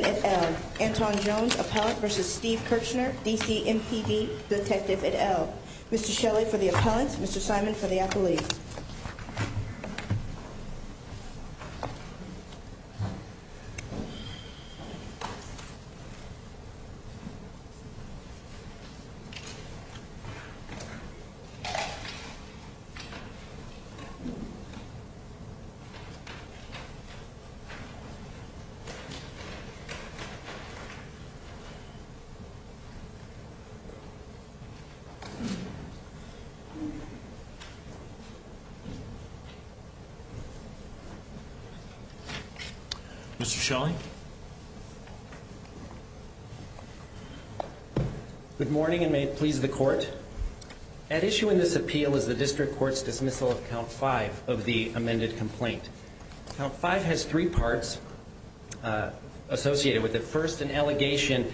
et al. Mr. Shelley for the appellant, Mr. Simon for the appellee. Mr. Shelley. Good morning and may it please the court. At issue in this appeal is the complaint. Now, five has three parts associated with it. First, an allegation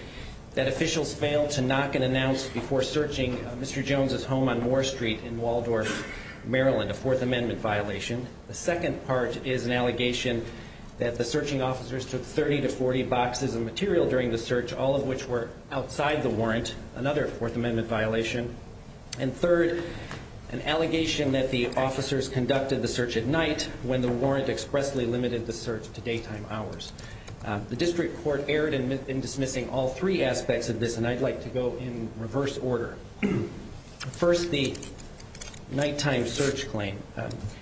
that officials failed to knock and announce before searching Mr. Jones' home on Moore Street in Waldorf, Maryland, a Fourth Amendment violation. The second part is an allegation that the searching officers took 30 to 40 boxes of material during the search, all of which were outside the warrant, another Fourth Amendment violation. And third, an allegation that the officers conducted the search at night when the warrant expressly limited the search to daytime hours. The district court erred in dismissing all three aspects of this, and I'd like to go in reverse order. First, the nighttime search claim.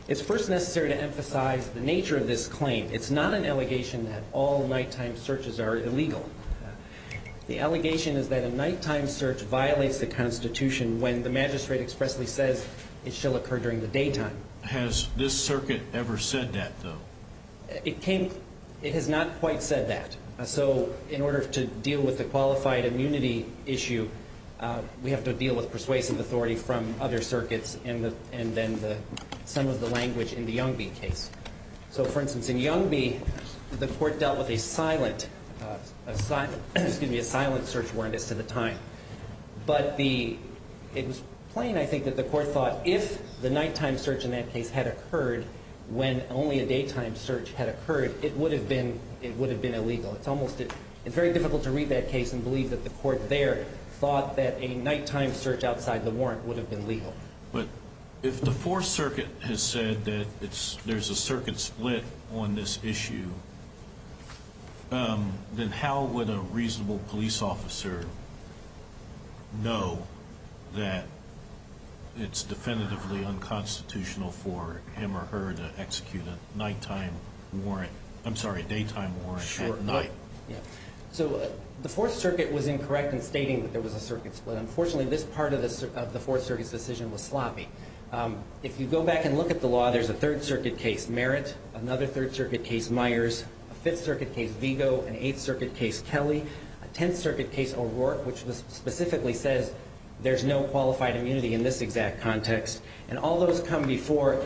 It's first necessary to emphasize the nature of this claim. It's not an allegation that all nighttime searches are illegal. The allegation is that a nighttime search violates the Constitution when the magistrate expressly says it shall occur during the daytime. Has this circuit ever said that, though? It has not quite said that. So in order to deal with the qualified immunity issue, we have to deal with persuasive authority from other circuits and then some of the language in the Youngby case. So, for instance, in Youngby, the court dealt with a silent search warrant as to the But it was plain, I think, that the court thought if the nighttime search in that case had occurred when only a daytime search had occurred, it would have been illegal. It's very difficult to read that case and believe that the court there thought that a nighttime search outside the warrant would have been legal. But if the Fourth Circuit has said that there's a circuit split on this issue, then how would a reasonable police officer know that it's definitively unconstitutional for him or her to execute a daytime warrant at night? So the Fourth Circuit was incorrect in stating that there was a circuit split. Unfortunately, this part of the Fourth Circuit's decision was sloppy. If you go back and look at the law, there's a Third Circuit case, Merritt, another Third Circuit case, Myers, a Fifth Circuit case, Vigo, an Eighth Circuit case, Kelly, a Tenth Circuit case, O'Rourke, which specifically says there's no qualified immunity in this exact context. And all those come before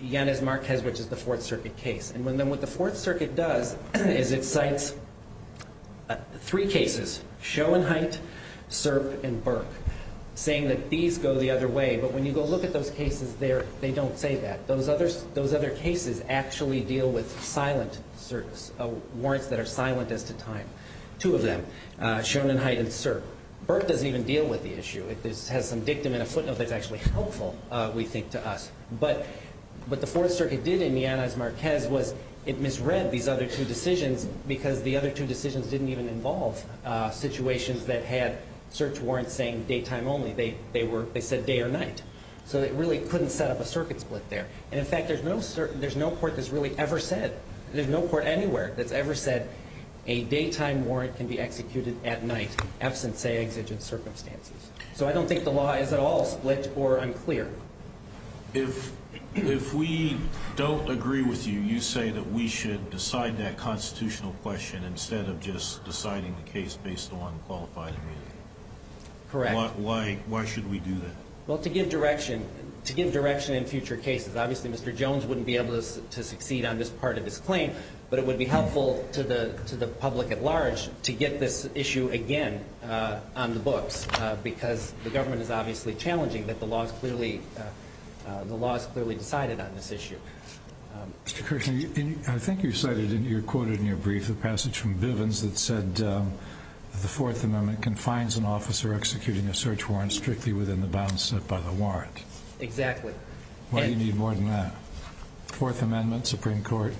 Yanez-Marquez, which is the Fourth Circuit case. And then what the Fourth Circuit does is it cites three cases, Schoenheit, Serp, and Burke, saying that these go the same way. They don't say that. Those other cases actually deal with silent warrants that are silent as to time. Two of them, Schoenheit and Serp. Burke doesn't even deal with the issue. It has some dictum and a footnote that's actually helpful, we think, to us. But what the Fourth Circuit did in Yanez-Marquez was it misread these other two decisions because the other two decisions didn't even involve situations that had search warrants saying So it really couldn't set up a circuit split there. And in fact, there's no court that's really ever said, there's no court anywhere that's ever said a daytime warrant can be executed at night, absent, say, exigent circumstances. So I don't think the law is at all split or unclear. If we don't agree with you, you say that we should decide that constitutional question instead of just deciding the case based on qualified immunity. Correct. Why should we do that? Well, to give direction in future cases. Obviously, Mr. Jones wouldn't be able to succeed on this part of his claim, but it would be helpful to the public at large to get this issue again on the books because the government is obviously challenging that the law is clearly decided on this issue. Mr. Kirshner, I think you cited, you quoted in your brief, the passage from Bivens that the Fourth Amendment confines an officer executing a search warrant strictly within the bounds set by the warrant. Exactly. Why do you need more than that? Fourth Amendment, Supreme Court?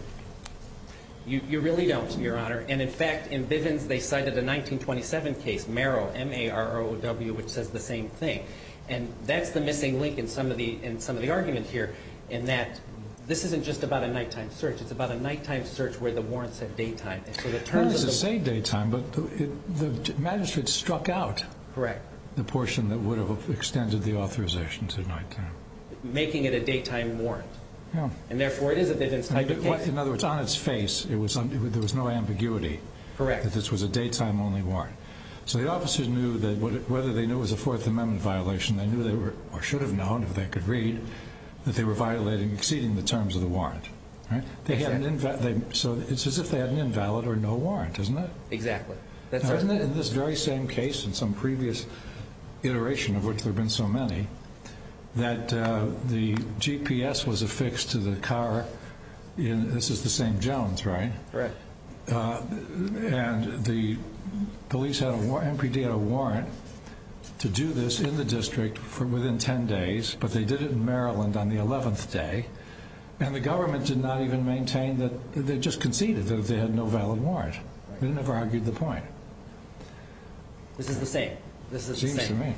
You really don't, Your Honor. And in fact, in Bivens, they cited a 1927 case, Marrow, M-A-R-R-O-W, which says the same thing. And that's the missing link in some of the argument here in that this isn't just about a nighttime search. It's about a nighttime search where the warrants have daytime. It doesn't say daytime, but the magistrate struck out the portion that would have extended the authorization to nighttime. Making it a daytime warrant. And therefore, it is a Bivens type of case. In other words, on its face, there was no ambiguity that this was a daytime only warrant. So the officers knew that whether they knew it was a Fourth Amendment violation, they knew they were, or should have known if they could read, that they were violating, exceeding the terms of the warrant. Right? Exactly. So it's as if they had an invalid or no warrant, isn't it? Exactly. Isn't it in this very same case, in some previous iteration of which there have been so many, that the GPS was affixed to the car in, this is the same Jones, right? Correct. And the police had a, MPD had a warrant to do this in the district for within 10 days, but they did it in Maryland on the 11th day. And the government did not even maintain that, they just conceded that they had no valid warrant. They never argued the point. This is the same. Seems to me.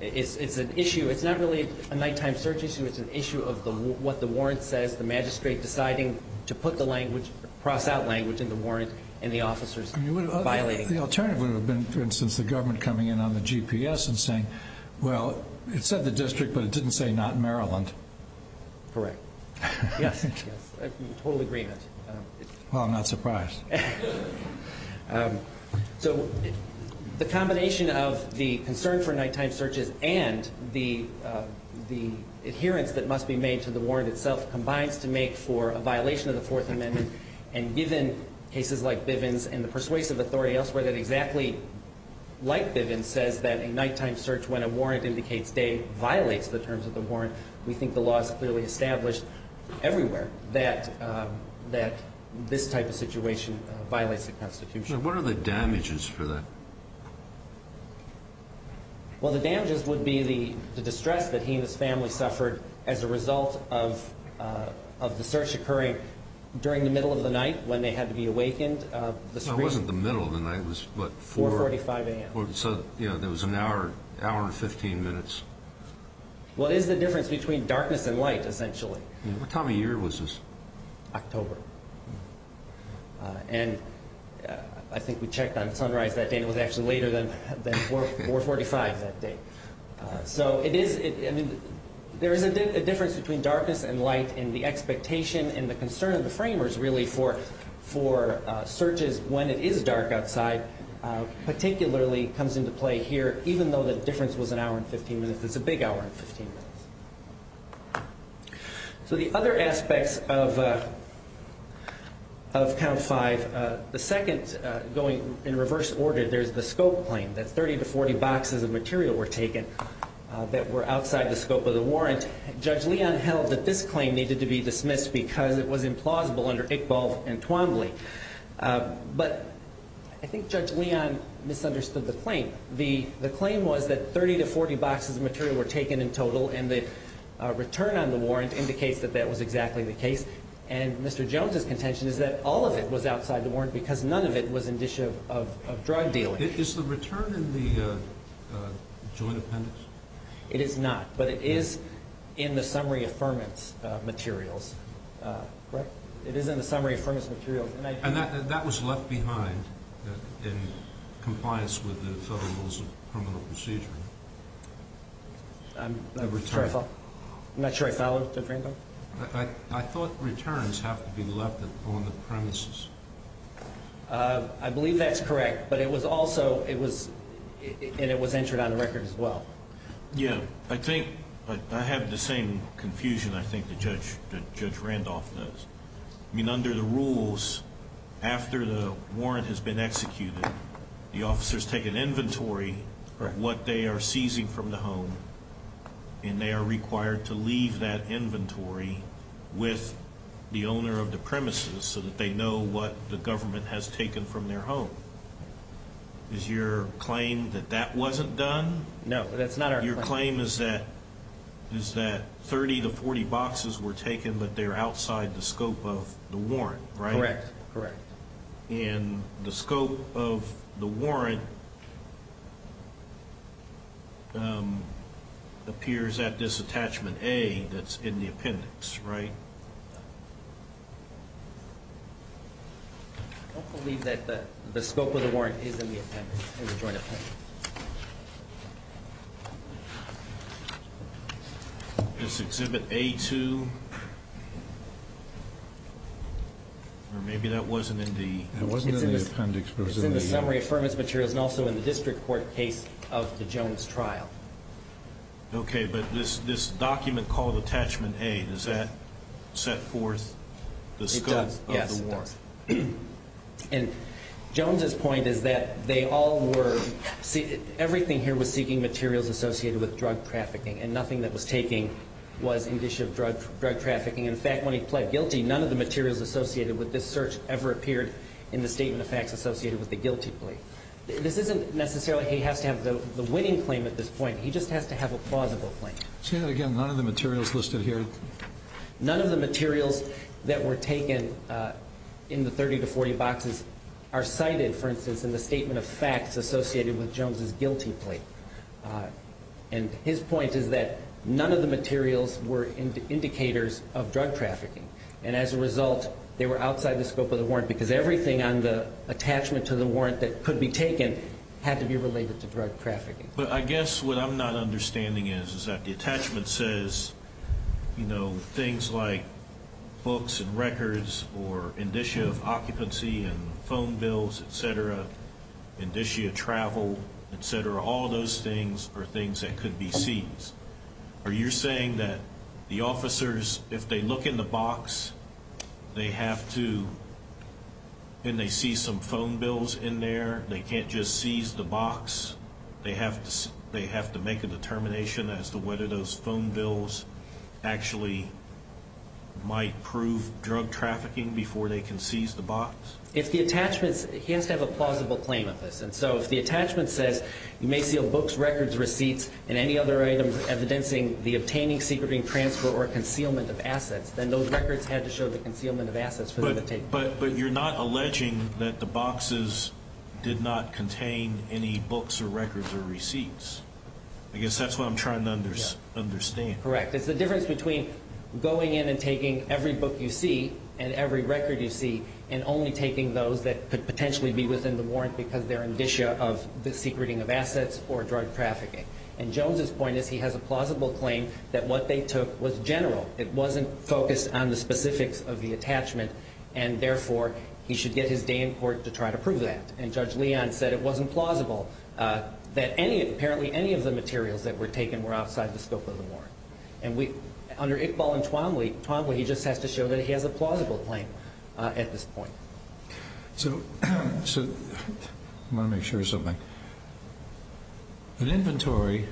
It's an issue, it's not really a nighttime search issue, it's an issue of what the warrant says, the magistrate deciding to put the language, cross out language in the warrant, and the officers violating it. The alternative would have been, for instance, the government coming in on the GPS and saying, well, it said the district, but it didn't say not Maryland. Correct. Yes. Yes. Total agreement. Well, I'm not surprised. So the combination of the concern for nighttime searches and the adherence that must be made to the warrant itself combines to make for a violation of the Fourth Amendment, and given cases like Bivens and the persuasive authority elsewhere that exactly, like Bivens, says that a nighttime search when a warrant indicates day violates the terms of the warrant, we think the law is clearly established everywhere that this type of situation violates the Constitution. What are the damages for that? Well, the damages would be the distress that he and his family suffered as a result of the search occurring during the middle of the night when they had to be awakened. It wasn't the middle of the night. It was, what, 4? 4.45 a.m. So there was an hour and 15 minutes. Well, it is the difference between darkness and light, essentially. What time of year was this? October. And I think we checked on sunrise that day, and it was actually later than 4.45 that day. So there is a difference between darkness and light in the expectation and the concern of the framers, really, for searches when it is dark outside, particularly comes into play here, even though the difference was an hour and 15 minutes. It's a big hour and 15 minutes. So the other aspects of Count 5, the second going in reverse order, there's the scope claim, that 30 to 40 boxes of material were taken that were outside the scope of the warrant. Judge Leon held that this claim needed to be dismissed because it was implausible under Iqbal and Twombly. But I think Judge Leon misunderstood the claim. The claim was that 30 to 40 boxes of material were taken in total, and the return on the warrant indicates that that was exactly the case. And Mr. Jones's contention is that all of it was outside the warrant because none of it was in the dish of drug dealing. Is the return in the joint appendix? It is not, but it is in the summary affirmance materials. It is in the summary affirmance materials. And that was left behind in compliance with the Federal Rules of Criminal Procedure? I'm not sure I followed. I thought returns have to be left on the premises. I believe that's correct, and it was entered on the record as well. Yeah. I think I have the same confusion I think that Judge Randolph does. I mean, under the rules, after the warrant has been executed, the officers take an inventory of what they are seizing from the home, and they are required to leave that inventory with the owner of the premises so that they know what the government has taken from their home. Is your claim that that wasn't done? No, that's not our claim. Your claim is that 30 to 40 boxes were taken, but they are outside the scope of the warrant, right? Correct, correct. And the scope of the warrant appears at this attachment A that's in the appendix, right? I believe that the scope of the warrant is in the appendix, in the joint appendix. Does Exhibit A2, or maybe that wasn't in the appendix. It's in the summary affirmance materials and also in the district court case of the Jones trial. Okay, but this document called Attachment A, does that set forth the scope of the warrant? It does, yes. And Jones's point is that everything here was seeking materials associated with drug trafficking, and nothing that was taken was in the issue of drug trafficking. In fact, when he pled guilty, none of the materials associated with this search ever appeared in the statement of facts associated with the guilty plea. This isn't necessarily he has to have the winning claim at this point. He just has to have a plausible claim. Say that again, none of the materials listed here? None of the materials that were taken in the 30 to 40 boxes are cited, for instance, in the statement of facts associated with Jones's guilty plea. And his point is that none of the materials were indicators of drug trafficking. And as a result, they were outside the scope of the warrant because everything on the attachment to the warrant that could be taken had to be related to drug trafficking. But I guess what I'm not understanding is that the attachment says, you know, things like books and records or indicia of occupancy and phone bills, et cetera, indicia of travel, et cetera, all those things are things that could be seized. Are you saying that the officers, if they look in the box, they have to, and they see some phone bills in there, they can't just seize the box? They have to make a determination as to whether those phone bills actually might prove drug trafficking before they can seize the box? If the attachments, he has to have a plausible claim of this. And so if the attachment says, you may seal books, records, receipts, and any other items evidencing the obtaining, secreting, transfer, or concealment of assets, then those records had to show the concealment of assets for them to take. But you're not alleging that the boxes did not contain any books or records or receipts. I guess that's what I'm trying to understand. Correct. It's the difference between going in and taking every book you see and every record you see and only taking those that could potentially be within the warrant because they're indicia of the secreting of assets or drug trafficking. And Jones's point is he has a plausible claim that what they took was general. It wasn't focused on the specifics of the attachment. And, therefore, he should get his day in court to try to prove that. And Judge Leon said it wasn't plausible that apparently any of the materials that were taken were outside the scope of the warrant. And under Iqbal and Twanwy, he just has to show that he has a plausible claim at this point. So I want to make sure of something. An inventory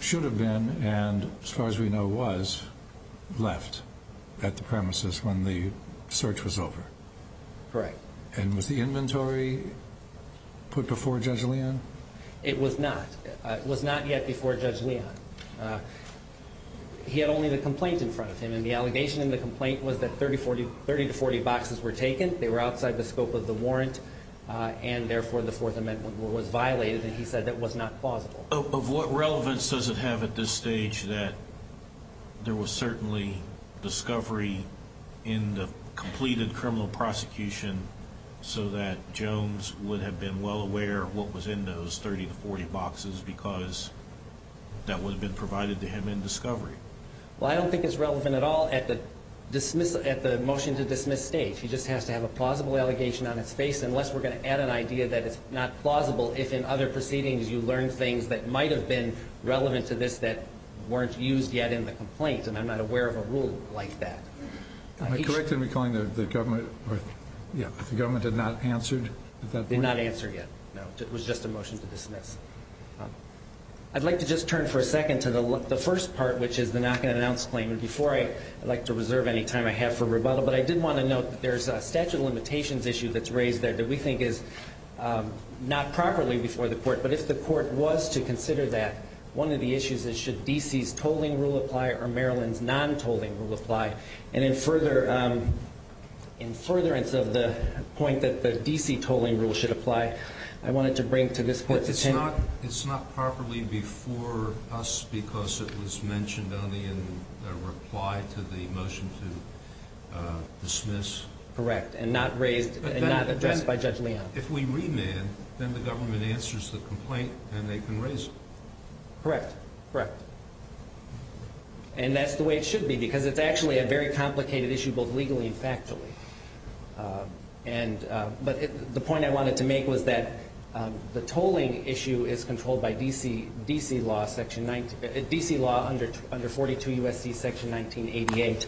should have been and, as far as we know, was left at the premises when the search was over. Correct. And was the inventory put before Judge Leon? It was not. It was not yet before Judge Leon. He had only the complaint in front of him. And the allegation in the complaint was that 30 to 40 boxes were taken. They were outside the scope of the warrant. And, therefore, the Fourth Amendment was violated. And he said that was not plausible. Of what relevance does it have at this stage that there was certainly discovery in the completed criminal prosecution so that Jones would have been well aware of what was in those 30 to 40 boxes because that would have been provided to him in discovery? Well, I don't think it's relevant at all at the motion to dismiss stage. He just has to have a plausible allegation on his face, unless we're going to add an idea that it's not plausible if in other proceedings you learn things that might have been relevant to this that weren't used yet in the complaint. And I'm not aware of a rule like that. Am I correct in recalling that the government did not answer at that point? Did not answer yet, no. It was just a motion to dismiss. I'd like to just turn for a second to the first part, which is the not going to announce claim. And before I'd like to reserve any time I have for rebuttal, but I did want to note that there's a statute of limitations issue that's raised there that we think is not properly before the court. But if the court was to consider that, one of the issues is should D.C.'s tolling rule apply or Maryland's non-tolling rule apply? And in furtherance of the point that the D.C. tolling rule should apply, I wanted to bring to this court's attention. But it's not properly before us because it was mentioned only in the reply to the motion to dismiss? Correct. And not raised and not addressed by Judge Leon. If we remand, then the government answers the complaint and they can raise it. Correct. Correct. And that's the way it should be because it's actually a very complicated issue both legally and factually. But the point I wanted to make was that the tolling issue is controlled by D.C. law under 42 U.S.C. section 1988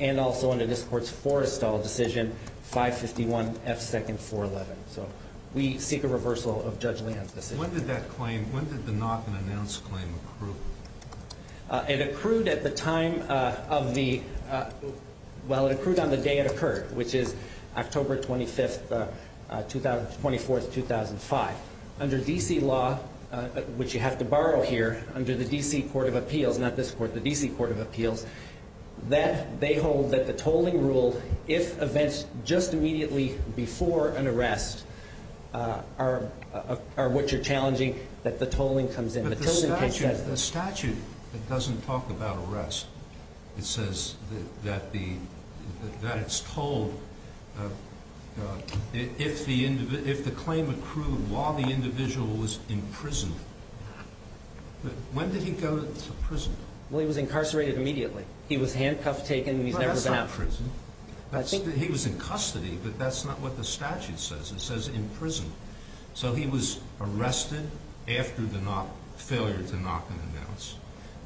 and also under this court's forestall decision, 551 F. 2nd, 411. So we seek a reversal of Judge Leon's decision. When did that claim, when did the not been announced claim accrue? It accrued at the time of the, well, it accrued on the day it occurred, which is October 25th, 24th, 2005. Under D.C. law, which you have to borrow here, under the D.C. Court of Appeals, not this court, but the D.C. Court of Appeals, that they hold that the tolling rule, if events just immediately before an arrest are what you're challenging, that the tolling comes in. But the statute doesn't talk about arrest. It says that it's told if the claim accrued while the individual was in prison. When did he go to prison? Well, he was incarcerated immediately. He was handcuffed, taken, and he's never been out. Well, that's not prison. He was in custody, but that's not what the statute says. It says in prison. So he was arrested after the failure to knock and announce,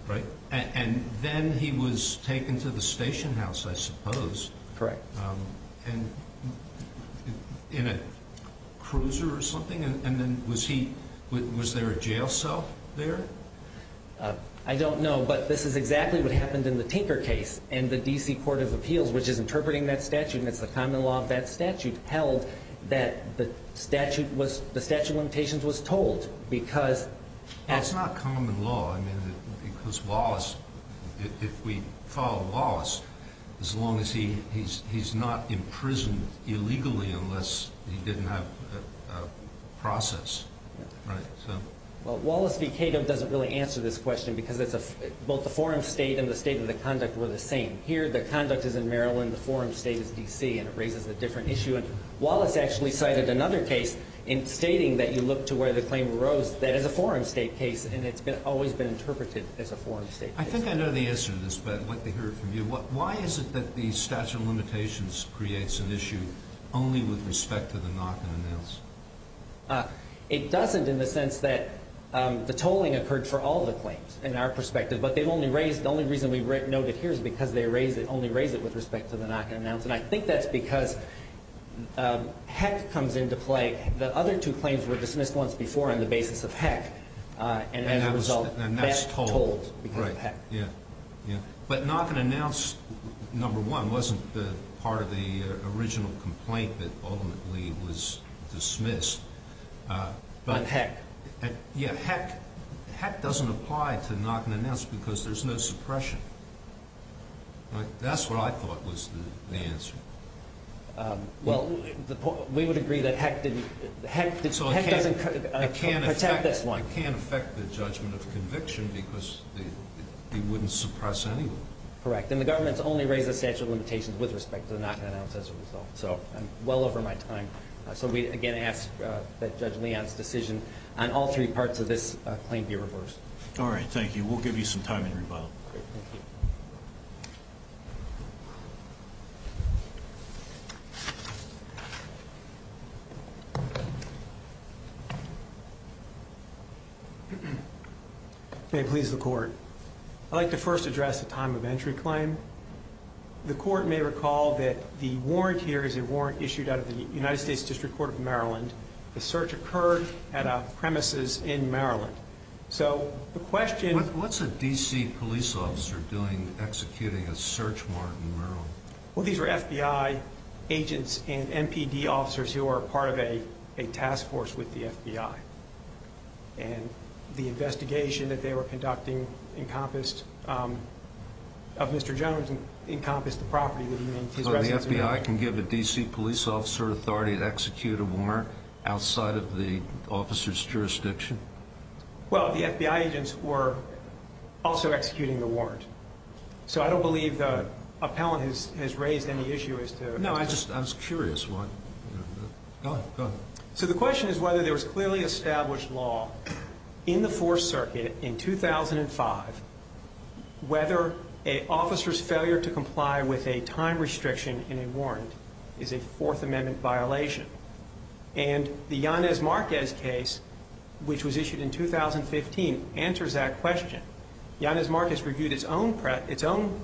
right? And then he was taken to the station house, I suppose. Correct. And in a cruiser or something? And then was there a jail cell there? I don't know, but this is exactly what happened in the Tinker case, and the D.C. Court of Appeals, which is interpreting that statute, and it's the common law of that statute, held that the statute of limitations was tolled. That's not common law. Because Wallace, if we follow Wallace, as long as he's not imprisoned illegally unless he didn't have a process, right? Well, Wallace v. Cato doesn't really answer this question because both the forum state and the state of the conduct were the same. Here the conduct is in Maryland, the forum state is D.C., and it raises a different issue. Wallace actually cited another case in stating that you look to where the claim arose. That is a forum state case, and it's always been interpreted as a forum state case. I think I know the answer to this, but I'd like to hear it from you. Why is it that the statute of limitations creates an issue only with respect to the knock and announce? It doesn't in the sense that the tolling occurred for all the claims in our perspective, but the only reason we note it here is because they only raise it with respect to the knock and announce, and I think that's because heck comes into play. The other two claims were dismissed once before on the basis of heck, and as a result, that's tolled because of heck. Right, yeah. But knock and announce, number one, wasn't part of the original complaint that ultimately was dismissed. But heck. Yeah, heck doesn't apply to knock and announce because there's no suppression. That's what I thought was the answer. Well, we would agree that heck doesn't protect this one. It can't affect the judgment of conviction because it wouldn't suppress anyone. Correct, and the government's only raised the statute of limitations with respect to the knock and announce as a result. So I'm well over my time. So we, again, ask that Judge Leon's decision on all three parts of this claim be reversed. All right, thank you. We'll give you some time in rebuttal. Great, thank you. May it please the Court. I'd like to first address the time of entry claim. The Court may recall that the warrant here is a warrant issued out of the United States District Court of Maryland. The search occurred at a premises in Maryland. What's a D.C. police officer doing executing a search warrant in Maryland? Well, these are FBI agents and MPD officers who are part of a task force with the FBI. And the investigation that they were conducting of Mr. Jones encompassed the property that he maintained. So the FBI can give a D.C. police officer authority to execute a warrant outside of the officer's jurisdiction? Well, the FBI agents were also executing the warrant. So I don't believe the appellant has raised any issue as to the warrant. No, I was just curious. So the question is whether there was clearly established law in the Fourth Circuit in 2005 whether an officer's failure to comply with a time restriction in a warrant is a Fourth Amendment violation. And the Yanez Marquez case, which was issued in 2015, answers that question. Yanez Marquez reviewed its own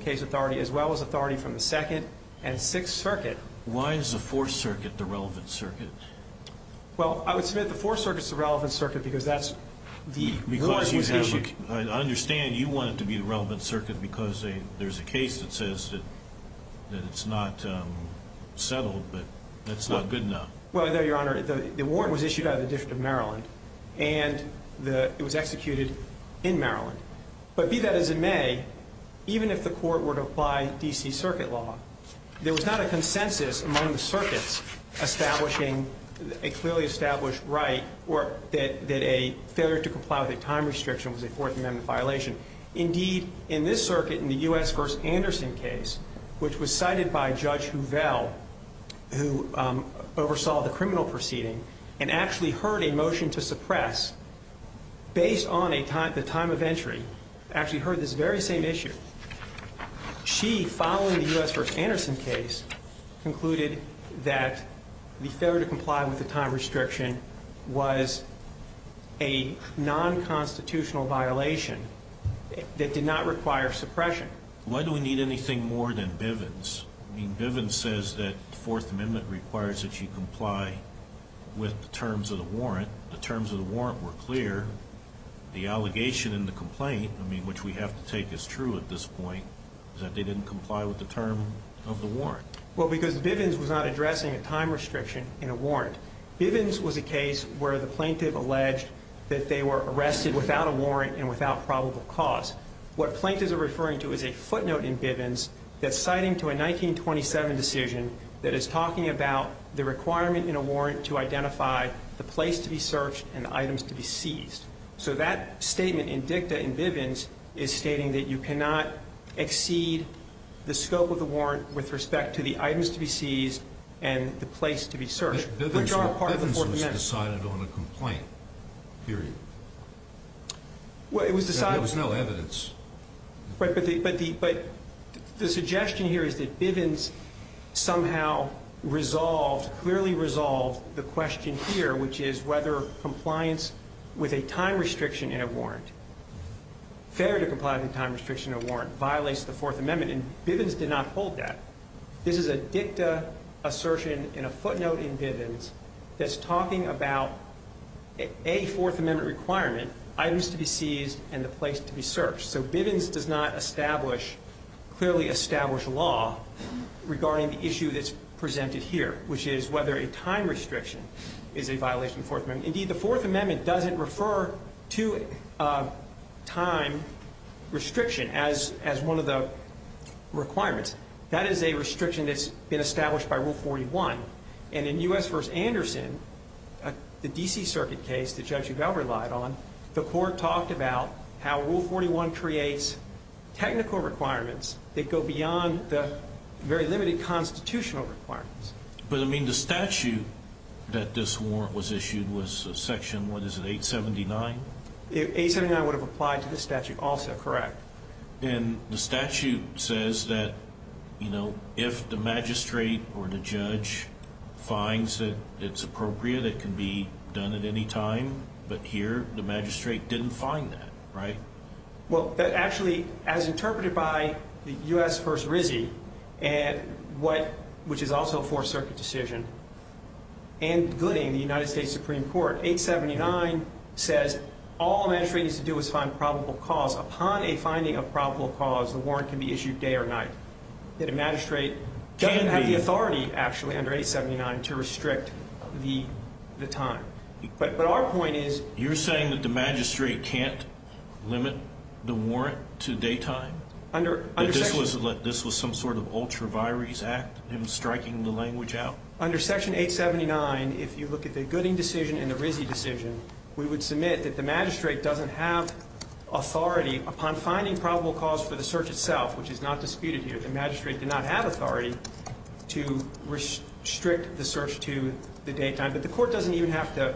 case authority as well as authority from the Second and Sixth Circuit. Why is the Fourth Circuit the relevant circuit? Well, I would submit the Fourth Circuit is the relevant circuit because that's the law that was issued. I understand you want it to be the relevant circuit because there's a case that says that it's not settled, but that's not good enough. Well, Your Honor, the warrant was issued out of the District of Maryland, and it was executed in Maryland. But be that as it may, even if the court were to apply D.C. circuit law, there was not a consensus among the circuits establishing a clearly established right that a failure to comply with a time restriction was a Fourth Amendment violation. Indeed, in this circuit, in the U.S. v. Anderson case, which was cited by Judge Huvel, who oversaw the criminal proceeding and actually heard a motion to suppress based on the time of entry, actually heard this very same issue. She, following the U.S. v. Anderson case, concluded that the failure to comply with the time restriction was a nonconstitutional violation that did not require suppression. Why do we need anything more than Bivens? I mean, Bivens says that the Fourth Amendment requires that you comply with the terms of the warrant. The terms of the warrant were clear. The allegation in the complaint, I mean, which we have to take as true at this point, is that they didn't comply with the term of the warrant. Well, because Bivens was not addressing a time restriction in a warrant. Bivens was a case where the plaintiff alleged that they were arrested without a warrant and without probable cause. What plaintiffs are referring to is a footnote in Bivens that's citing to a 1927 decision that is talking about the requirement in a warrant to identify the place to be searched and the items to be seized. So that statement in dicta in Bivens is stating that you cannot exceed the scope of the warrant with respect to the items to be seized and the place to be searched, which are all part of the Fourth Amendment. But Bivens was decided on a complaint, period. Well, it was decided. There was no evidence. But the suggestion here is that Bivens somehow resolved, clearly resolved, the question here, which is whether compliance with a time restriction in a warrant, fair to comply with a time restriction in a warrant, violates the Fourth Amendment. And Bivens did not hold that. This is a dicta assertion in a footnote in Bivens that's talking about a Fourth Amendment requirement, items to be seized and the place to be searched. So Bivens does not establish, clearly establish law regarding the issue that's presented here, which is whether a time restriction is a violation of the Fourth Amendment. Indeed, the Fourth Amendment doesn't refer to a time restriction as one of the requirements. That is a restriction that's been established by Rule 41. And in U.S. v. Anderson, the D.C. Circuit case that Judge Udell relied on, the Court talked about how Rule 41 creates technical requirements that go beyond the very limited constitutional requirements. But, I mean, the statute that this warrant was issued was Section, what is it, 879? 879 would have applied to this statute also, correct. And the statute says that, you know, if the magistrate or the judge finds that it's appropriate, it can be done at any time, but here the magistrate didn't find that, right? Well, actually, as interpreted by U.S. v. Rizzi, which is also a Fourth Circuit decision, and Gooding, the United States Supreme Court, 879 says all a magistrate needs to do is find probable cause. Upon a finding of probable cause, the warrant can be issued day or night. That a magistrate doesn't have the authority, actually, under 879, to restrict the time. But our point is you're saying that the magistrate can't limit the warrant to daytime? Under Section 879, if you look at the Gooding decision and the Rizzi decision, we would submit that the magistrate doesn't have authority upon finding probable cause for the search itself, which is not disputed here, the magistrate did not have authority to restrict the search to the daytime. But the Court doesn't even have to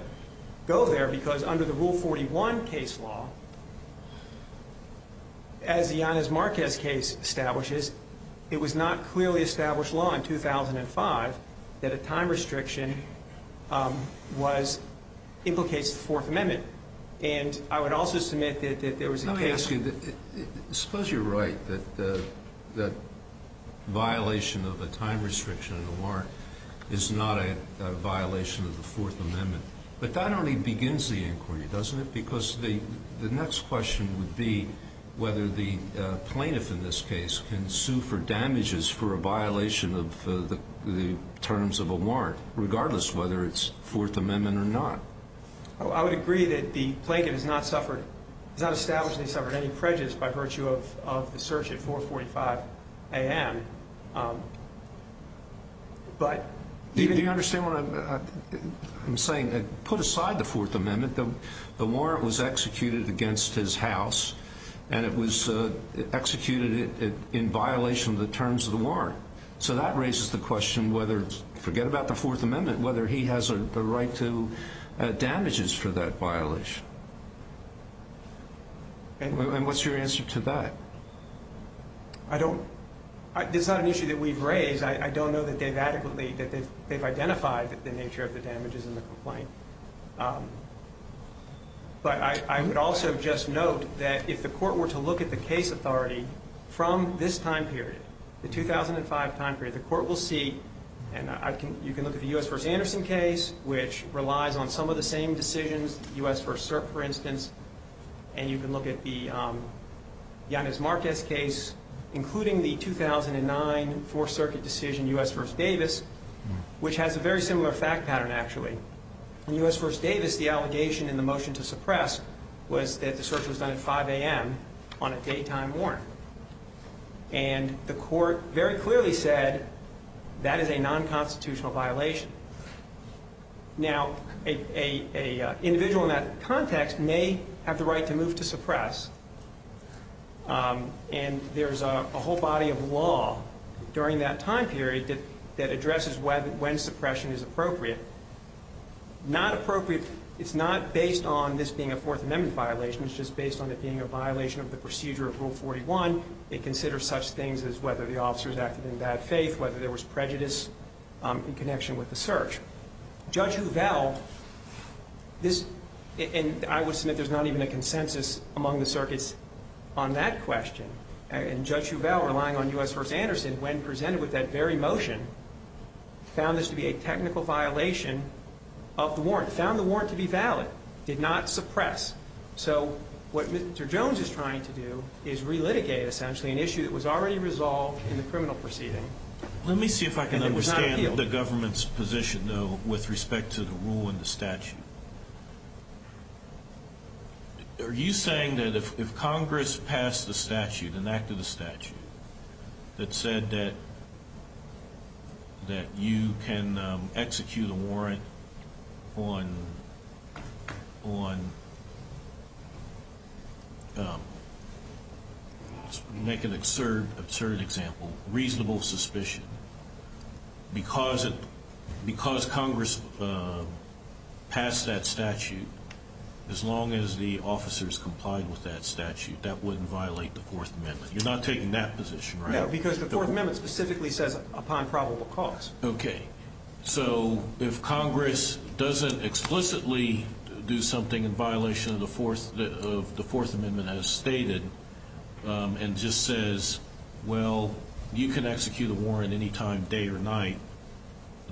go there because under the Rule 41 case law, as the Yanis Marquez case establishes, it was not clearly established law in 2005 that a time restriction was, implicates the Fourth Amendment. And I would also submit that there was a case. Let me ask you, suppose you're right that violation of a time restriction in a warrant is not a violation of the Fourth Amendment. But that only begins the inquiry, doesn't it? Because the next question would be whether the plaintiff in this case can sue for damages for a violation of the terms of a warrant, regardless of whether it's Fourth Amendment or not. I would agree that the plaintiff has not established that he suffered any prejudice by virtue of the search at 4.45 a.m. Do you understand what I'm saying? Put aside the Fourth Amendment. The warrant was executed against his house, and it was executed in violation of the terms of the warrant. So that raises the question whether, forget about the Fourth Amendment, whether he has the right to damages for that violation. And what's your answer to that? I don't – this is not an issue that we've raised. I don't know that they've adequately – that they've identified the nature of the damages in the complaint. But I would also just note that if the court were to look at the case authority from this time period, the 2005 time period, the court will see – and you can look at the U.S. v. Anderson case, which relies on some of the same decisions, the U.S. v. CERC, for instance, and you can look at the Yanis Marquez case, including the 2009 Fourth Circuit decision, U.S. v. Davis, which has a very similar fact pattern, actually. In U.S. v. Davis, the allegation in the motion to suppress was that the search was done at 5 a.m. on a daytime warrant. And the court very clearly said that is a non-constitutional violation. Now, an individual in that context may have the right to move to suppress, and there's a whole body of law during that time period that addresses when suppression is appropriate. Not appropriate – it's not based on this being a Fourth Amendment violation. It's just based on it being a violation of the procedure of Rule 41. It considers such things as whether the officers acted in bad faith, whether there was prejudice in connection with the search. Judge Huvel, this – and I would submit there's not even a consensus among the circuits on that question. And Judge Huvel, relying on U.S. v. Anderson, when presented with that very motion, found this to be a technical violation of the warrant, found the warrant to be valid, did not suppress. So what Mr. Jones is trying to do is relitigate, essentially, an issue that was already resolved in the criminal proceeding. Let me see if I can understand the government's position, though, with respect to the rule and the statute. Are you saying that if Congress passed the statute, enacted the statute, that said that you can execute a warrant on – let's make an absurd example – reasonable suspicion, because Congress passed that statute, as long as the officers complied with that statute, that wouldn't violate the Fourth Amendment? You're not taking that position, right? No, because the Fourth Amendment specifically says, upon probable cause. Okay. So if Congress doesn't explicitly do something in violation of the Fourth Amendment as stated, and just says, well, you can execute a warrant any time, day or night,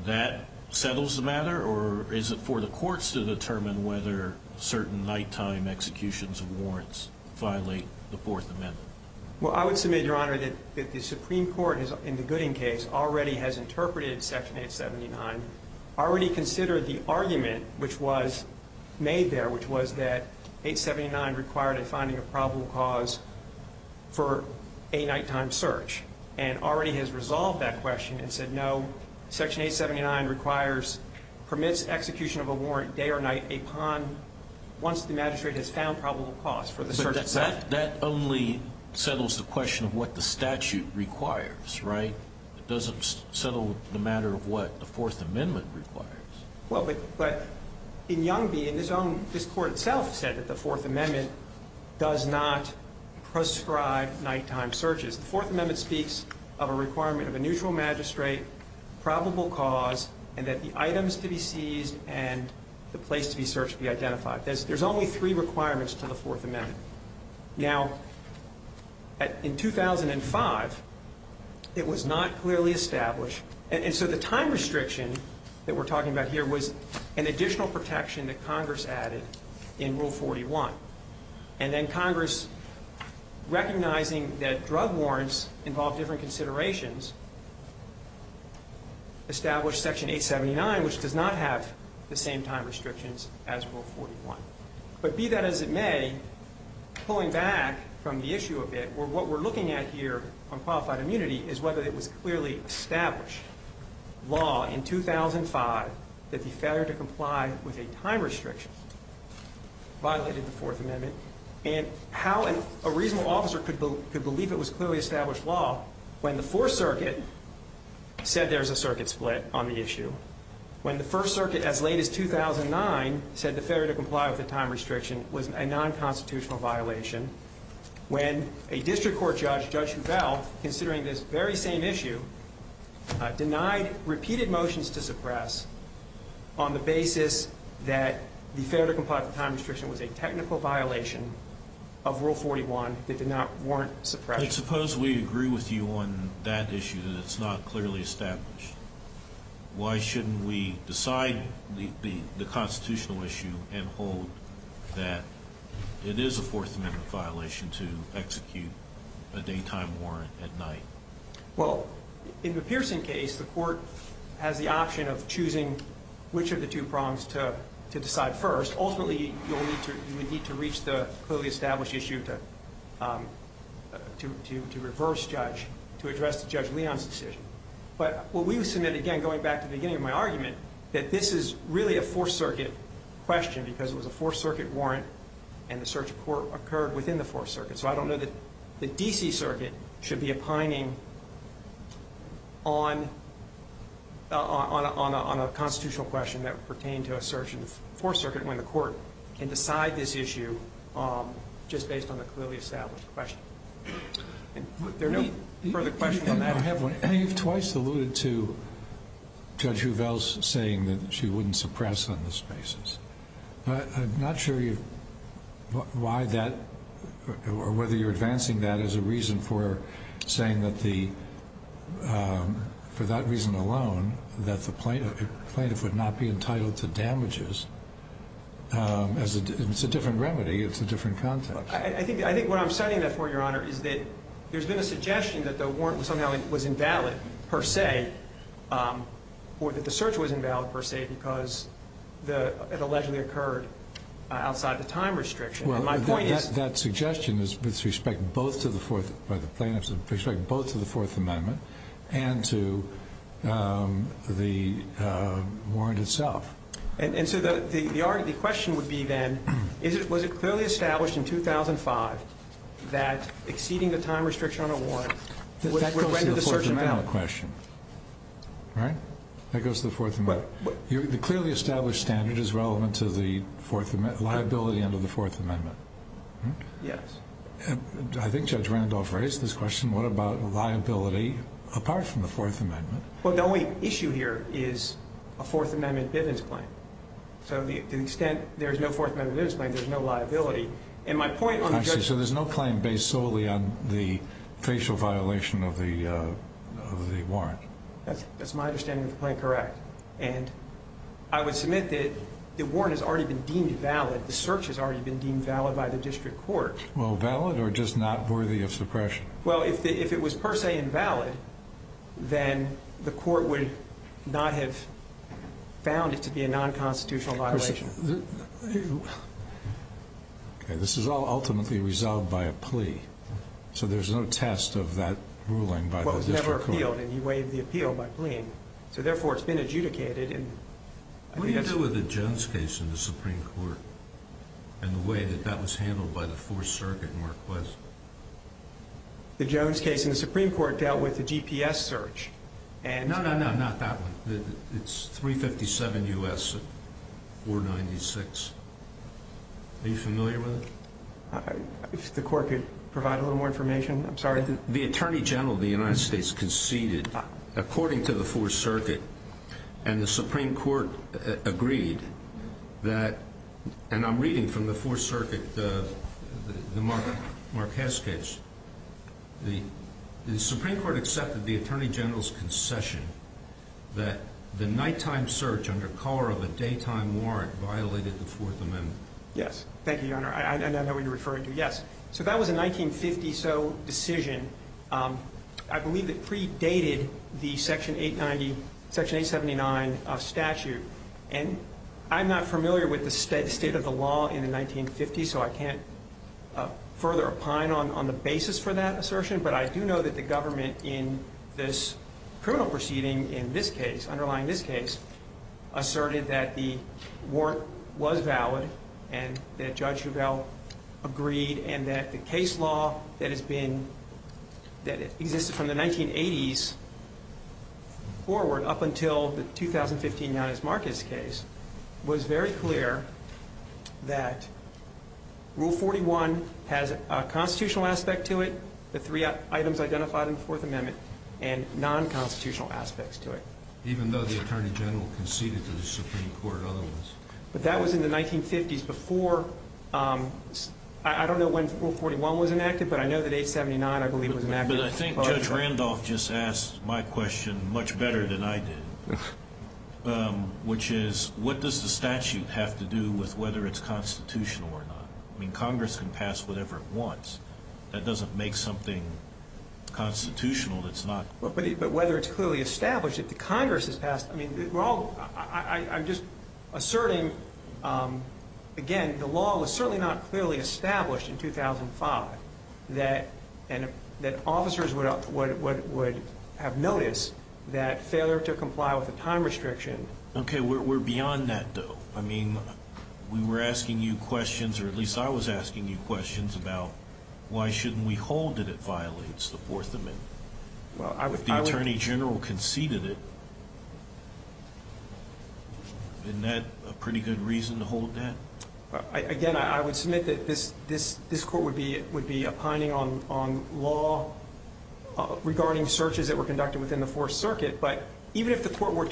that settles the matter? Or is it for the courts to determine whether certain nighttime executions of warrants violate the Fourth Amendment? Well, I would submit, Your Honor, that the Supreme Court, in the Gooding case, already has interpreted Section 879, already considered the argument which was made there, which was that 879 required a finding of probable cause for a nighttime search, and already has resolved that question and said, no, Section 879 requires – permits execution of a warrant day or night upon – once the magistrate has found probable cause for the search itself. But that only settles the question of what the statute requires, right? It doesn't settle the matter of what the Fourth Amendment requires. Well, but in Young v. – this Court itself said that the Fourth Amendment does not prescribe nighttime searches. The Fourth Amendment speaks of a requirement of a neutral magistrate, probable cause, and that the items to be seized and the place to be searched be identified. There's only three requirements to the Fourth Amendment. Now, in 2005, it was not clearly established. And so the time restriction that we're talking about here was an additional protection that Congress added in Rule 41. And then Congress, recognizing that drug warrants involve different considerations, established Section 879, which does not have the same time restrictions as Rule 41. But be that as it may, pulling back from the issue a bit, what we're looking at here on qualified immunity is whether it was clearly established law in 2005 that the failure to comply with a time restriction violated the Fourth Amendment and how a reasonable officer could believe it was clearly established law when the Fourth Circuit said there's a circuit split on the issue, when the First Circuit, as late as 2009, said the failure to comply with the time restriction was a nonconstitutional violation, when a district court judge, Judge Rubell, considering this very same issue, denied repeated motions to suppress on the basis that the failure to comply with the time restriction was a technical violation of Rule 41 that did not warrant suppression. But suppose we agree with you on that issue that it's not clearly established. Why shouldn't we decide the constitutional issue and hold that it is a Fourth Amendment violation to execute a daytime warrant at night? Well, in the Pearson case, the court has the option of choosing which of the two prongs to decide first. Ultimately, you would need to reach the clearly established issue to reverse judge, to address Judge Leon's decision. But what we would submit, again, going back to the beginning of my argument, that this is really a Fourth Circuit question because it was a Fourth Circuit warrant and the search of court occurred within the Fourth Circuit. So I don't know that the D.C. Circuit should be opining on a constitutional question that pertained to a search in the Fourth Circuit when the court can decide this issue just based on the clearly established question. There are no further questions on that? I have one. You've twice alluded to Judge Huvel's saying that she wouldn't suppress on this basis. I'm not sure why that or whether you're advancing that as a reason for saying that the, for that reason alone, that the plaintiff would not be entitled to damages. It's a different remedy. It's a different context. I think what I'm citing that for, Your Honor, is that there's been a suggestion that the warrant somehow was invalid per se or that the search was invalid per se because it allegedly occurred outside the time restriction. And my point is that suggestion is with respect both to the Fourth Amendment and to the warrant itself. And so the argument, the question would be then, was it clearly established in 2005 that exceeding the time restriction on a warrant would render the search invalid? That goes to the Fourth Amendment question, right? That goes to the Fourth Amendment. The clearly established standard is relevant to the liability under the Fourth Amendment. Yes. I think Judge Randolph raised this question. What about liability apart from the Fourth Amendment? Well, the only issue here is a Fourth Amendment evidence claim. So to the extent there's no Fourth Amendment evidence claim, there's no liability. And my point on the judge's point is that there's no claim based solely on the facial violation of the warrant. That's my understanding of the claim. Correct. And I would submit that the warrant has already been deemed valid. The search has already been deemed valid by the district court. Well, valid or just not worthy of suppression? Well, if it was per se invalid, then the court would not have found it to be a nonconstitutional violation. Okay. This is all ultimately resolved by a plea. So there's no test of that ruling by the district court. Well, it was never appealed, and you waived the appeal by pleading. So, therefore, it's been adjudicated. What do you do with the Jones case in the Supreme Court and the way that that was handled by the Fourth Circuit in Marquess? The Jones case in the Supreme Court dealt with the GPS search. No, no, no, not that one. It's 357 U.S. 496. Are you familiar with it? If the court could provide a little more information. I'm sorry. The attorney general of the United States conceded, according to the Fourth Circuit, and the Supreme Court agreed that, and I'm reading from the Fourth Circuit, the Marquess case. The Supreme Court accepted the attorney general's concession that the nighttime search under color of a daytime warrant violated the Fourth Amendment. Yes. Thank you, Your Honor. I know what you're referring to. Yes. So that was a 1950-so decision. I believe it predated the Section 879 statute. And I'm not familiar with the state of the law in the 1950s, so I can't further opine on the basis for that assertion, but I do know that the government in this criminal proceeding in this case, underlying this case, asserted that the warrant was valid and that Judge Shovell agreed and that the case law that has been, that existed from the 1980s forward, up until the 2015 Yanis Marquess case, was very clear that Rule 41 has a constitutional aspect to it, the three items identified in the Fourth Amendment, and non-constitutional aspects to it. Even though the attorney general conceded to the Supreme Court otherwise. But that was in the 1950s before, I don't know when Rule 41 was enacted, but I know that 879, I believe, was enacted. But I think Judge Randolph just asked my question much better than I did, which is, what does the statute have to do with whether it's constitutional or not? I mean, Congress can pass whatever it wants. That doesn't make something constitutional that's not. But whether it's clearly established, if the Congress has passed, I mean, again, the law was certainly not clearly established in 2005, that officers would have noticed that failure to comply with the time restriction. Okay, we're beyond that, though. I mean, we were asking you questions, or at least I was asking you questions, about why shouldn't we hold that it violates the Fourth Amendment? If the attorney general conceded it, isn't that a pretty good reason to hold that? Again, I would submit that this court would be opining on law regarding searches that were conducted within the Fourth Circuit. But even if the court were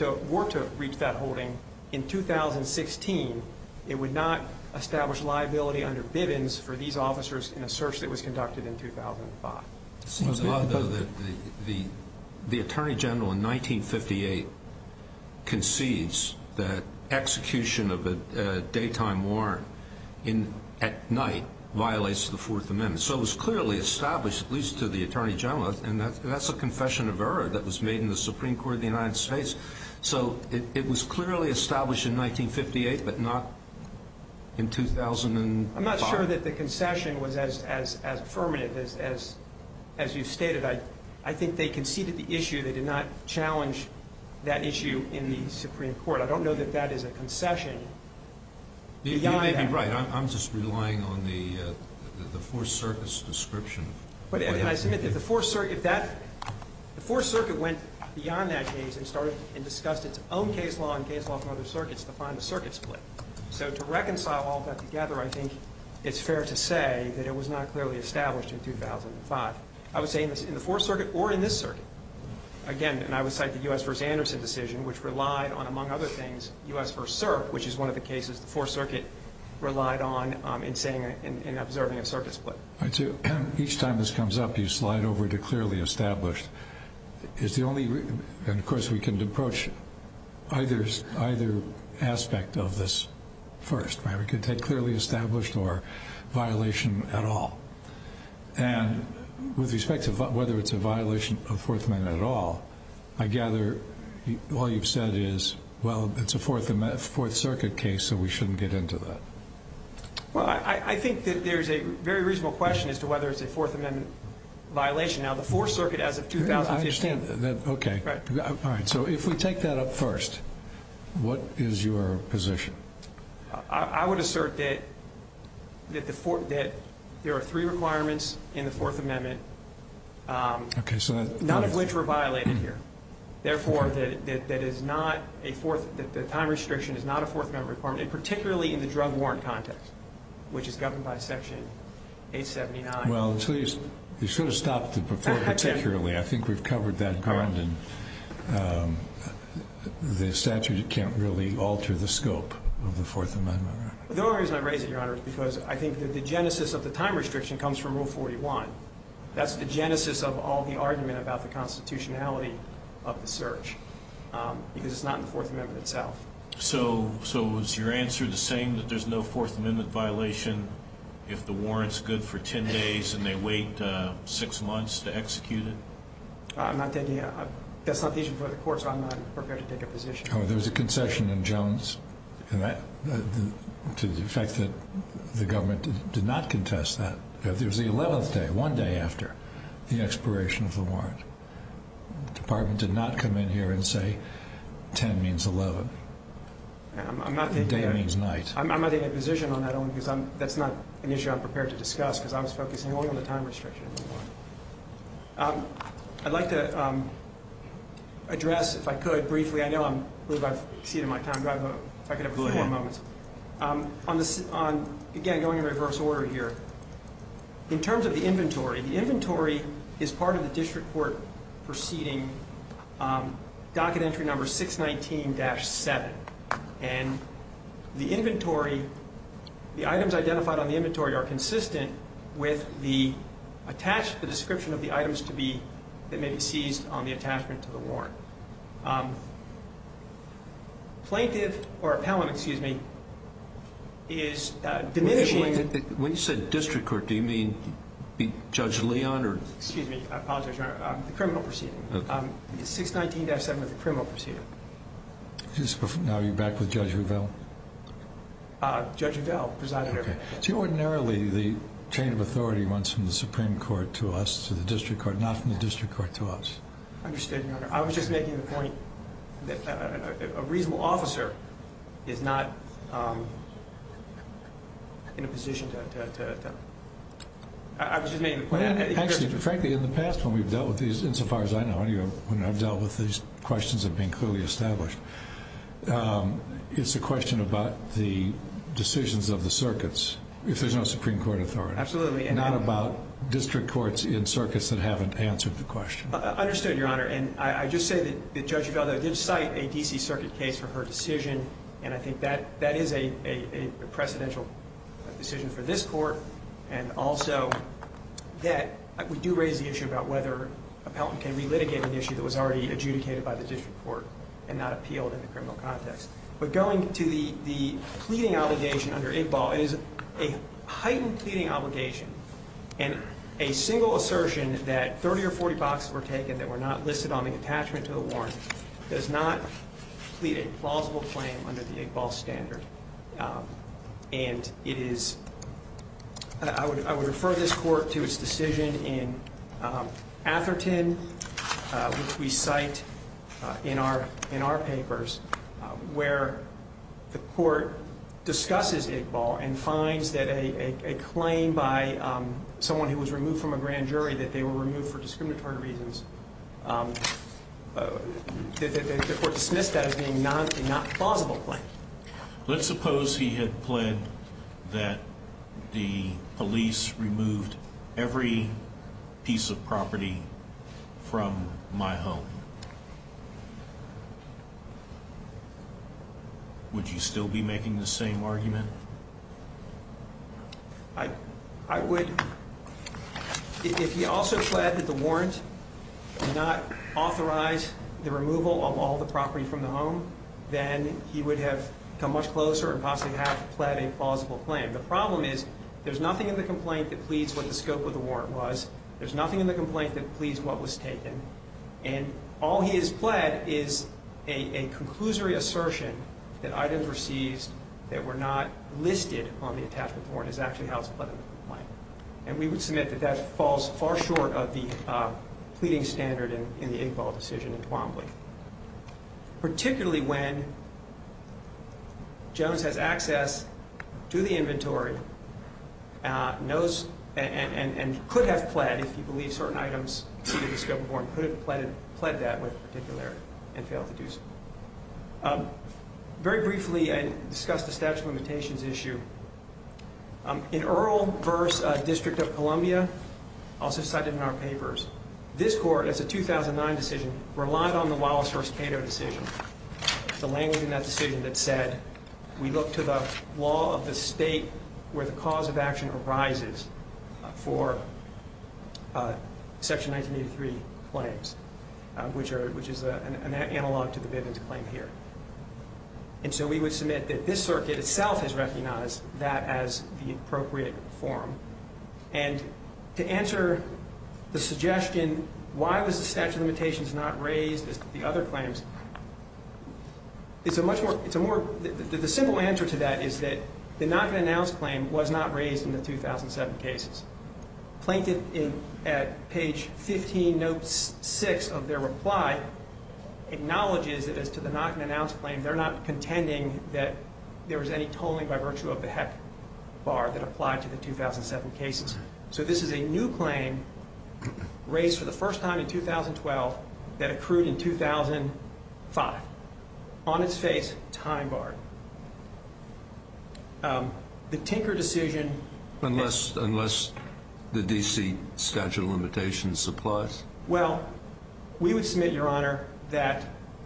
to reach that holding in 2016, it would not establish liability under Bivens for these officers in a search that was conducted in 2005. It seems odd, though, that the attorney general in 1958 concedes that execution of a daytime warrant at night violates the Fourth Amendment. So it was clearly established, at least to the attorney general, and that's a confession of error that was made in the Supreme Court of the United States. So it was clearly established in 1958, but not in 2005. I'm not sure that the concession was as affirmative as you stated. I think they conceded the issue. They did not challenge that issue in the Supreme Court. I don't know that that is a concession beyond that. You may be right. I'm just relying on the Fourth Circuit's description. I submit that the Fourth Circuit went beyond that case and discussed its own case law and case law from other circuits to find the circuit split. So to reconcile all that together, I think it's fair to say that it was not clearly established in 2005. I would say in the Fourth Circuit or in this circuit. Again, and I would cite the U.S. v. Anderson decision, which relied on, among other things, U.S. v. CERP, which is one of the cases the Fourth Circuit relied on in saying and observing a circuit split. I do. Each time this comes up, you slide over to clearly established. And, of course, we can approach either aspect of this first. We could take clearly established or violation at all. And with respect to whether it's a violation of Fourth Amendment at all, I gather all you've said is, well, it's a Fourth Circuit case, so we shouldn't get into that. Well, I think that there's a very reasonable question as to whether it's a Fourth Amendment violation. Now, the Fourth Circuit, as of 2015. I understand that. Okay. Right. All right. So if we take that up first, what is your position? I would assert that there are three requirements in the Fourth Amendment, none of which were violated here. Therefore, the time restriction is not a Fourth Amendment requirement, and particularly in the drug warrant context, which is governed by Section 879. Well, you should have stopped it before particularly. I think we've covered that ground, and the statute can't really alter the scope of the Fourth Amendment. The only reason I raise it, Your Honor, is because I think the genesis of the time restriction comes from Rule 41. That's the genesis of all the argument about the constitutionality of the search, because it's not in the Fourth Amendment itself. So is your answer the same, that there's no Fourth Amendment violation if the warrant's good for 10 days and they wait six months to execute it? That's not the issue for the court, so I'm not prepared to take a position. There was a concession in Jones to the fact that the government did not contest that. It was the 11th day, one day after the expiration of the warrant. The department did not come in here and say 10 means 11, and day means night. I'm not taking a position on that only because that's not an issue I'm prepared to discuss because I was focusing only on the time restriction of the warrant. I'd like to address, if I could, briefly. I know I've exceeded my time, but if I could have four moments. Go ahead. The inventory is part of the district court proceeding, docket entry number 619-7. And the inventory, the items identified on the inventory are consistent with the attached, the description of the items to be, that may be seized on the attachment to the warrant. Plaintiff or appellant, excuse me, is diminishing. When you said district court, do you mean Judge Leon? Excuse me, I apologize, Your Honor. The criminal proceeding, 619-7 of the criminal proceeding. Now you're back with Judge Revelle? Judge Revelle, presiding over it. So ordinarily the chain of authority runs from the Supreme Court to us, to the district court, not from the district court to us. Understood, Your Honor. I was just making the point that a reasonable officer is not in a position to, I was just making the point. Actually, frankly, in the past when we've dealt with these, insofar as I know, when I've dealt with these questions that have been clearly established, it's a question about the decisions of the circuits if there's no Supreme Court authority. Absolutely. Not about district courts in circuits that haven't answered the question. Understood, Your Honor. And I just say that Judge Revelle did cite a D.C. circuit case for her decision, and I think that is a precedential decision for this court, and also that we do raise the issue about whether an appellant can relitigate an issue that was already adjudicated by the district court and not appealed in the criminal context. But going to the pleading obligation under IGBAL, it is a heightened pleading obligation, and a single assertion that 30 or 40 boxes were taken that were not listed on the attachment to the warrant does not plead a plausible claim under the IGBAL standard. And it is, I would refer this court to its decision in Atherton, which we cite in our papers, where the court discusses IGBAL and finds that a claim by someone who was removed from a grand jury, that they were removed for discriminatory reasons, the court dismissed that as being not a plausible claim. Let's suppose he had pled that the police removed every piece of property from my home. Would you still be making the same argument? I would. If he also pled that the warrant did not authorize the removal of all the property from the home, then he would have come much closer and possibly have pled a plausible claim. The problem is there's nothing in the complaint that pleads what the scope of the warrant was. There's nothing in the complaint that pleads what was taken. And all he has pled is a conclusory assertion that items were seized that were not listed on the attachment to the warrant is actually how it's pled in the complaint. And we would submit that that falls far short of the pleading standard in the IGBAL decision in Twombly. Particularly when Jones has access to the inventory and could have pled, if he believed certain items to be the scope of the warrant, could have pled that with particularity and failed to do so. Very briefly, I discussed the statute of limitations issue. In Earl v. District of Columbia, also cited in our papers, this court, as a 2009 decision, relied on the Wallace v. Cato decision, the language in that decision that said, we look to the law of the state where the cause of action arises for Section 1983 claims, which is an analog to the Bivens claim here. And so we would submit that this circuit itself has recognized that as the appropriate form. And to answer the suggestion, why was the statute of limitations not raised as to the other claims, it's a much more, it's a more, the simple answer to that is that the not-going-to-announce claim was not raised in the 2007 cases. Plaintiff, at page 15, note 6 of their reply, acknowledges that as to the not-going-to-announce claim, they're not contending that there was any tolling by virtue of the HECC bar that applied to the 2007 cases. So this is a new claim raised for the first time in 2012 that accrued in 2005. On its face, time barred. The Tinker decision- Unless the D.C. statute of limitations applies? Well, we would submit, Your Honor, that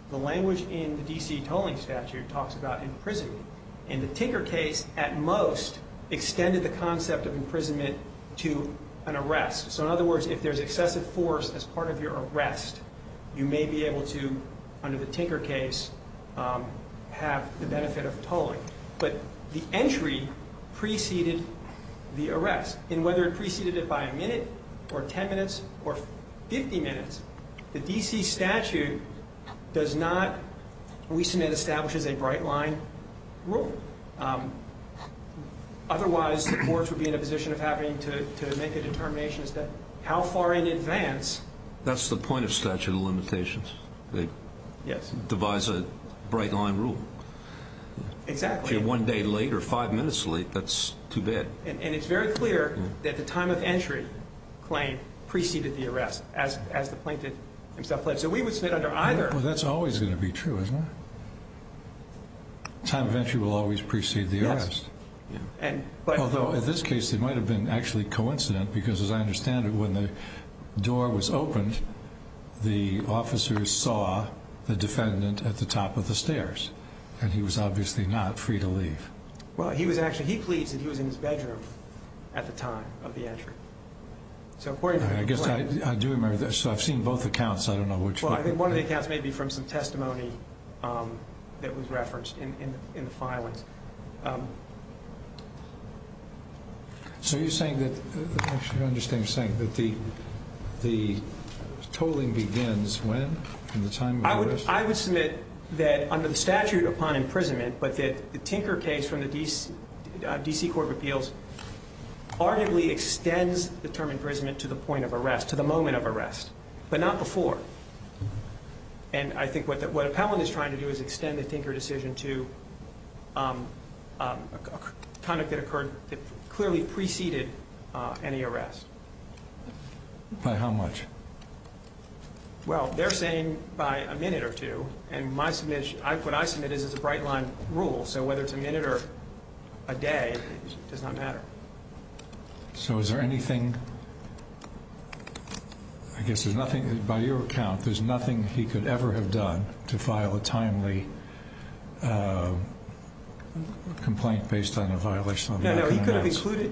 the language in the D.C. tolling statute talks about imprisonment. And the Tinker case, at most, extended the concept of imprisonment to an arrest. So in other words, if there's excessive force as part of your arrest, you may be able to, under the Tinker case, have the benefit of tolling. But the entry preceded the arrest. And whether it preceded it by a minute or 10 minutes or 50 minutes, the D.C. statute does not, we submit, establishes a bright-line rule. Otherwise, the courts would be in a position of having to make a determination as to how far in advance- That's the point of statute of limitations. Yes. They devise a bright-line rule. Exactly. If you're one day late or five minutes late, that's too bad. And it's very clear that the time of entry claim preceded the arrest, as the plaintiff himself alleged. So we would submit under either- Well, that's always going to be true, isn't it? Yes. Although, in this case, it might have been actually coincident, because as I understand it, when the door was opened, the officer saw the defendant at the top of the stairs. And he was obviously not free to leave. Well, he was actually, he pleads that he was in his bedroom at the time of the entry. So according to- I guess I do remember this. So I've seen both accounts. I don't know which- So you're saying that- I'm just saying that the tolling begins when, in the time of arrest? I would submit that under the statute upon imprisonment, but that the Tinker case from the D.C. Court of Appeals arguably extends the term imprisonment to the point of arrest, to the moment of arrest, but not before. And I think what Appellant is trying to do is extend the Tinker decision to conduct that clearly preceded any arrest. By how much? Well, they're saying by a minute or two, and what I submit is it's a bright-line rule, so whether it's a minute or a day, it does not matter. So is there anything- I guess there's nothing, by your account, there's nothing he could ever have done to file a timely complaint based on a violation of the Anachan Announce- No, no,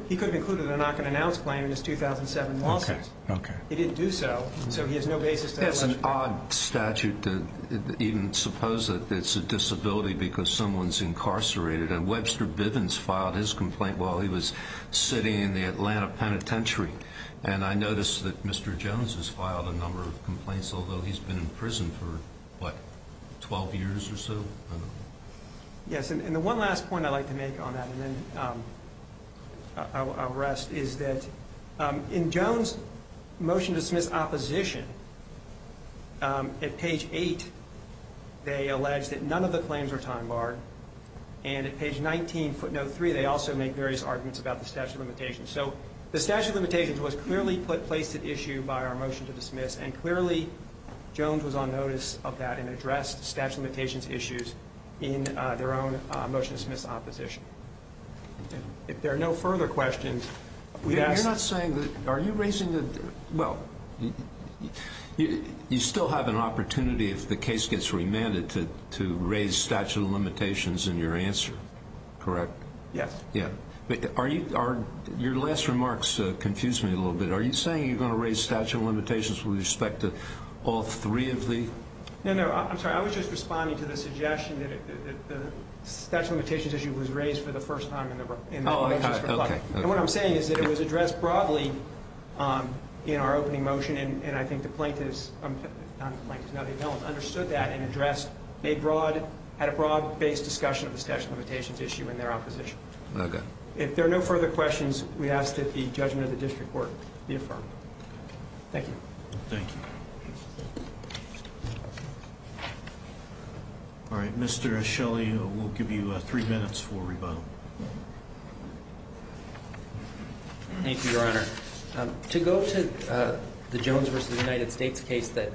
he could have included an Anachan Announce claim in his 2007 lawsuit. Okay, okay. He didn't do so, so he has no basis to- It's an odd statute to even suppose that it's a disability because someone's incarcerated, and Webster Bivens filed his complaint while he was sitting in the Atlanta penitentiary, and I noticed that Mr. Jones has filed a number of complaints, although he's been in prison for, what, 12 years or so? Yes, and the one last point I'd like to make on that, and then I'll rest, is that in Jones' motion to dismiss opposition, at page 8, they allege that none of the claims are time-barred, and at page 19, footnote 3, they also make various arguments about the statute of limitations. So the statute of limitations was clearly placed at issue by our motion to dismiss, and clearly, Jones was on notice of that and addressed the statute of limitations issues in their own motion to dismiss opposition. If there are no further questions, we ask- You're not saying that, are you raising the, well, you still have an opportunity, if the case gets remanded, to raise statute of limitations in your answer, correct? Yes. Yeah. Are you, your last remarks confused me a little bit. Are you saying you're going to raise statute of limitations with respect to all three of the- No, no, I'm sorry. I was just responding to the suggestion that the statute of limitations issue was raised for the first time in the motion. Oh, okay. And what I'm saying is that it was addressed broadly in our opening motion, and I think the plaintiffs understood that and addressed, had a broad-based discussion of the statute of limitations issue in their opposition. Okay. If there are no further questions, we ask that the judgment of the district court be affirmed. Thank you. Thank you. All right, Mr. Shelley, we'll give you three minutes for rebuttal. Thank you, Your Honor. To go to the Jones v. United States case that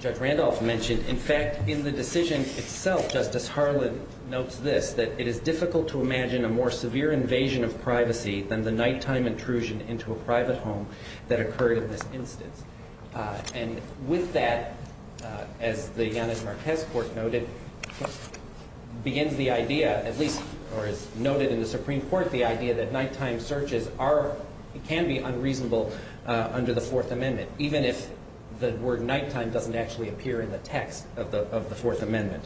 Judge Randolph mentioned, in fact, in the decision itself, Justice Harlan notes this, that it is difficult to imagine a more severe invasion of privacy than the nighttime intrusion into a private home that occurred in this instance. And with that, as the Yanis Marquez court noted, begins the idea, at least, or is noted in the Supreme Court, the idea that nighttime searches can be unreasonable under the Fourth Amendment, even if the word nighttime doesn't actually appear in the text of the Fourth Amendment.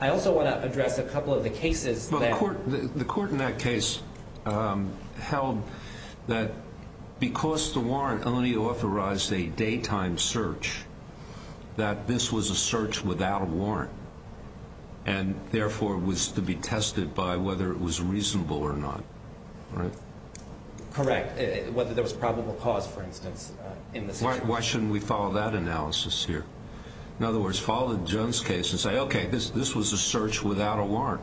I also want to address a couple of the cases that- Correct. Whether there was probable cause, for instance, in this instance. Why shouldn't we follow that analysis here? In other words, follow the Jones case and say, okay, this was a search without a warrant.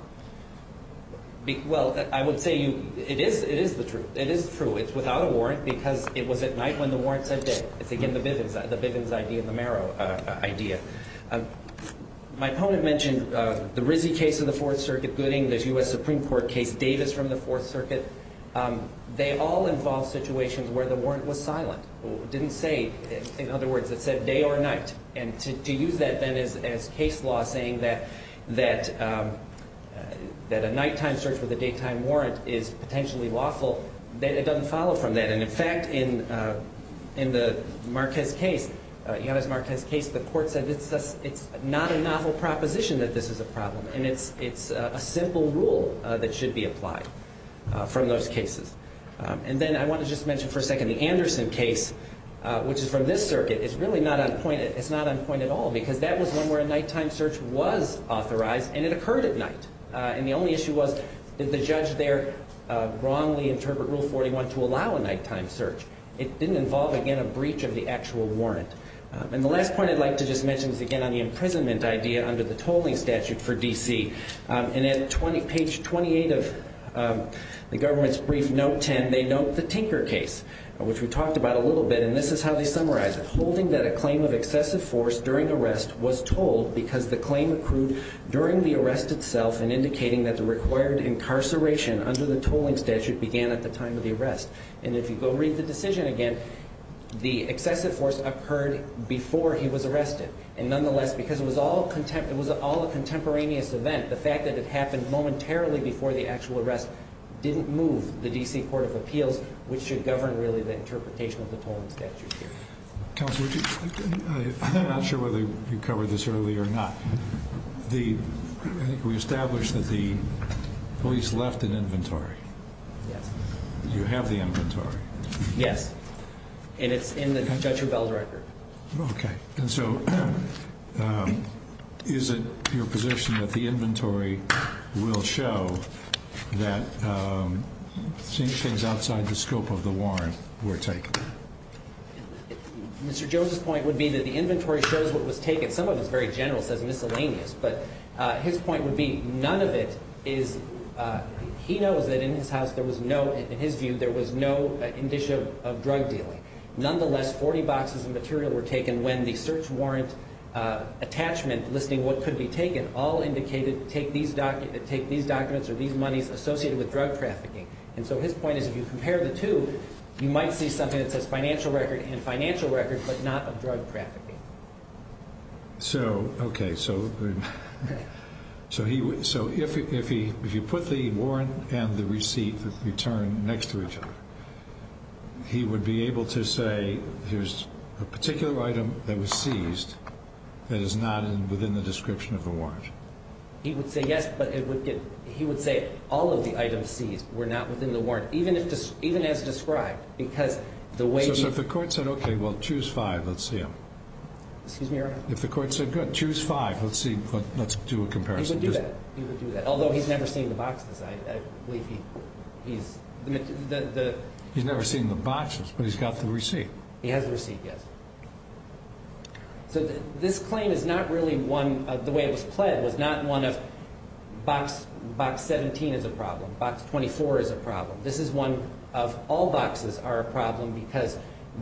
Well, I would say it is true. It is true. It's without a warrant because it was at night when the warrant said day. It's, again, the Bivens idea, the Marrow idea. My opponent mentioned the Rizzi case of the Fourth Circuit, Gooding, this U.S. Supreme Court case, Davis from the Fourth Circuit. They all involve situations where the warrant was silent. It didn't say, in other words, it said day or night. And to use that then as case law, saying that a nighttime search with a daytime warrant is potentially lawful, it doesn't follow from that. And, in fact, in the Yanez Marquez case, the court said it's not a novel proposition that this is a problem, and it's a simple rule that should be applied from those cases. And then I want to just mention for a second the Anderson case, which is from this circuit. It's really not on point. It's not on point at all because that was one where a nighttime search was authorized, and it occurred at night. And the only issue was did the judge there wrongly interpret Rule 41 to allow a nighttime search? It didn't involve, again, a breach of the actual warrant. And the last point I'd like to just mention is, again, on the imprisonment idea under the tolling statute for D.C. And at page 28 of the government's brief, note 10, they note the Tinker case, which we talked about a little bit, and this is how they summarize it. Holding that a claim of excessive force during arrest was tolled because the claim accrued during the arrest itself and indicating that the required incarceration under the tolling statute began at the time of the arrest. And if you go read the decision again, the excessive force occurred before he was arrested. And nonetheless, because it was all a contemporaneous event, the fact that it happened momentarily before the actual arrest didn't move the D.C. Court of Appeals, which should govern, really, the interpretation of the tolling statute here. Counsel, I'm not sure whether you covered this earlier or not. I think we established that the police left an inventory. Yes. You have the inventory. Yes. And it's in the Judge Hubel's record. Okay. And so is it your position that the inventory will show that things outside the scope of the warrant were taken? Mr. Joseph's point would be that the inventory shows what was taken. Some of it's very general, says miscellaneous, but his point would be none of it is he knows that in his house there was no, in his view, there was no indicia of drug dealing. Nonetheless, 40 boxes of material were taken when the search warrant attachment listing what could be taken all indicated take these documents or these monies associated with drug trafficking. And so his point is if you compare the two, you might see something that says financial record and financial record, but not of drug trafficking. So, okay, so if you put the warrant and the receipt return next to each other, he would be able to say there's a particular item that was seized that is not within the description of the warrant. He would say yes, but he would say all of the items seized were not within the warrant, even as described, because the way he If the court said okay, well, choose five, let's see them. Excuse me, Your Honor? If the court said good, choose five, let's see, let's do a comparison. He would do that. He would do that, although he's never seen the boxes. He's never seen the boxes, but he's got the receipt. He has the receipt, yes. So this claim is not really one, the way it was pled was not one of box 17 is a problem, box 24 is a problem. This is one of all boxes are a problem because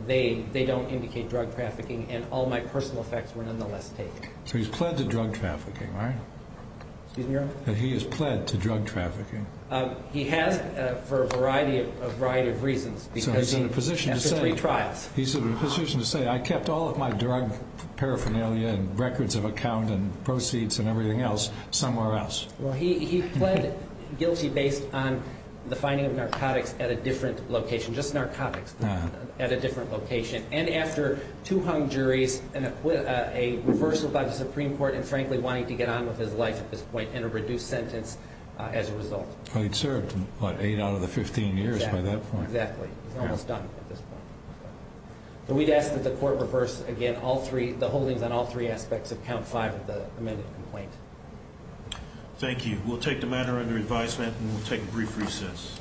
they don't indicate drug trafficking and all my personal effects were nonetheless taken. So he's pled to drug trafficking, right? Excuse me, Your Honor? He has pled to drug trafficking. He has for a variety of reasons. So he's in a position to say I kept all of my drug paraphernalia and records of account and proceeds and everything else somewhere else. Well, he pled guilty based on the finding of narcotics at a different location, just narcotics at a different location, and after two hung juries and a reversal by the Supreme Court and frankly wanting to get on with his life at this point and a reduced sentence as a result. He'd served, what, eight out of the 15 years by that point. Exactly. He's almost done at this point. We'd ask that the court reverse again all three, the holdings on all three aspects of count five of the amended complaint. Thank you. We'll take the matter under advisement and we'll take a brief recess.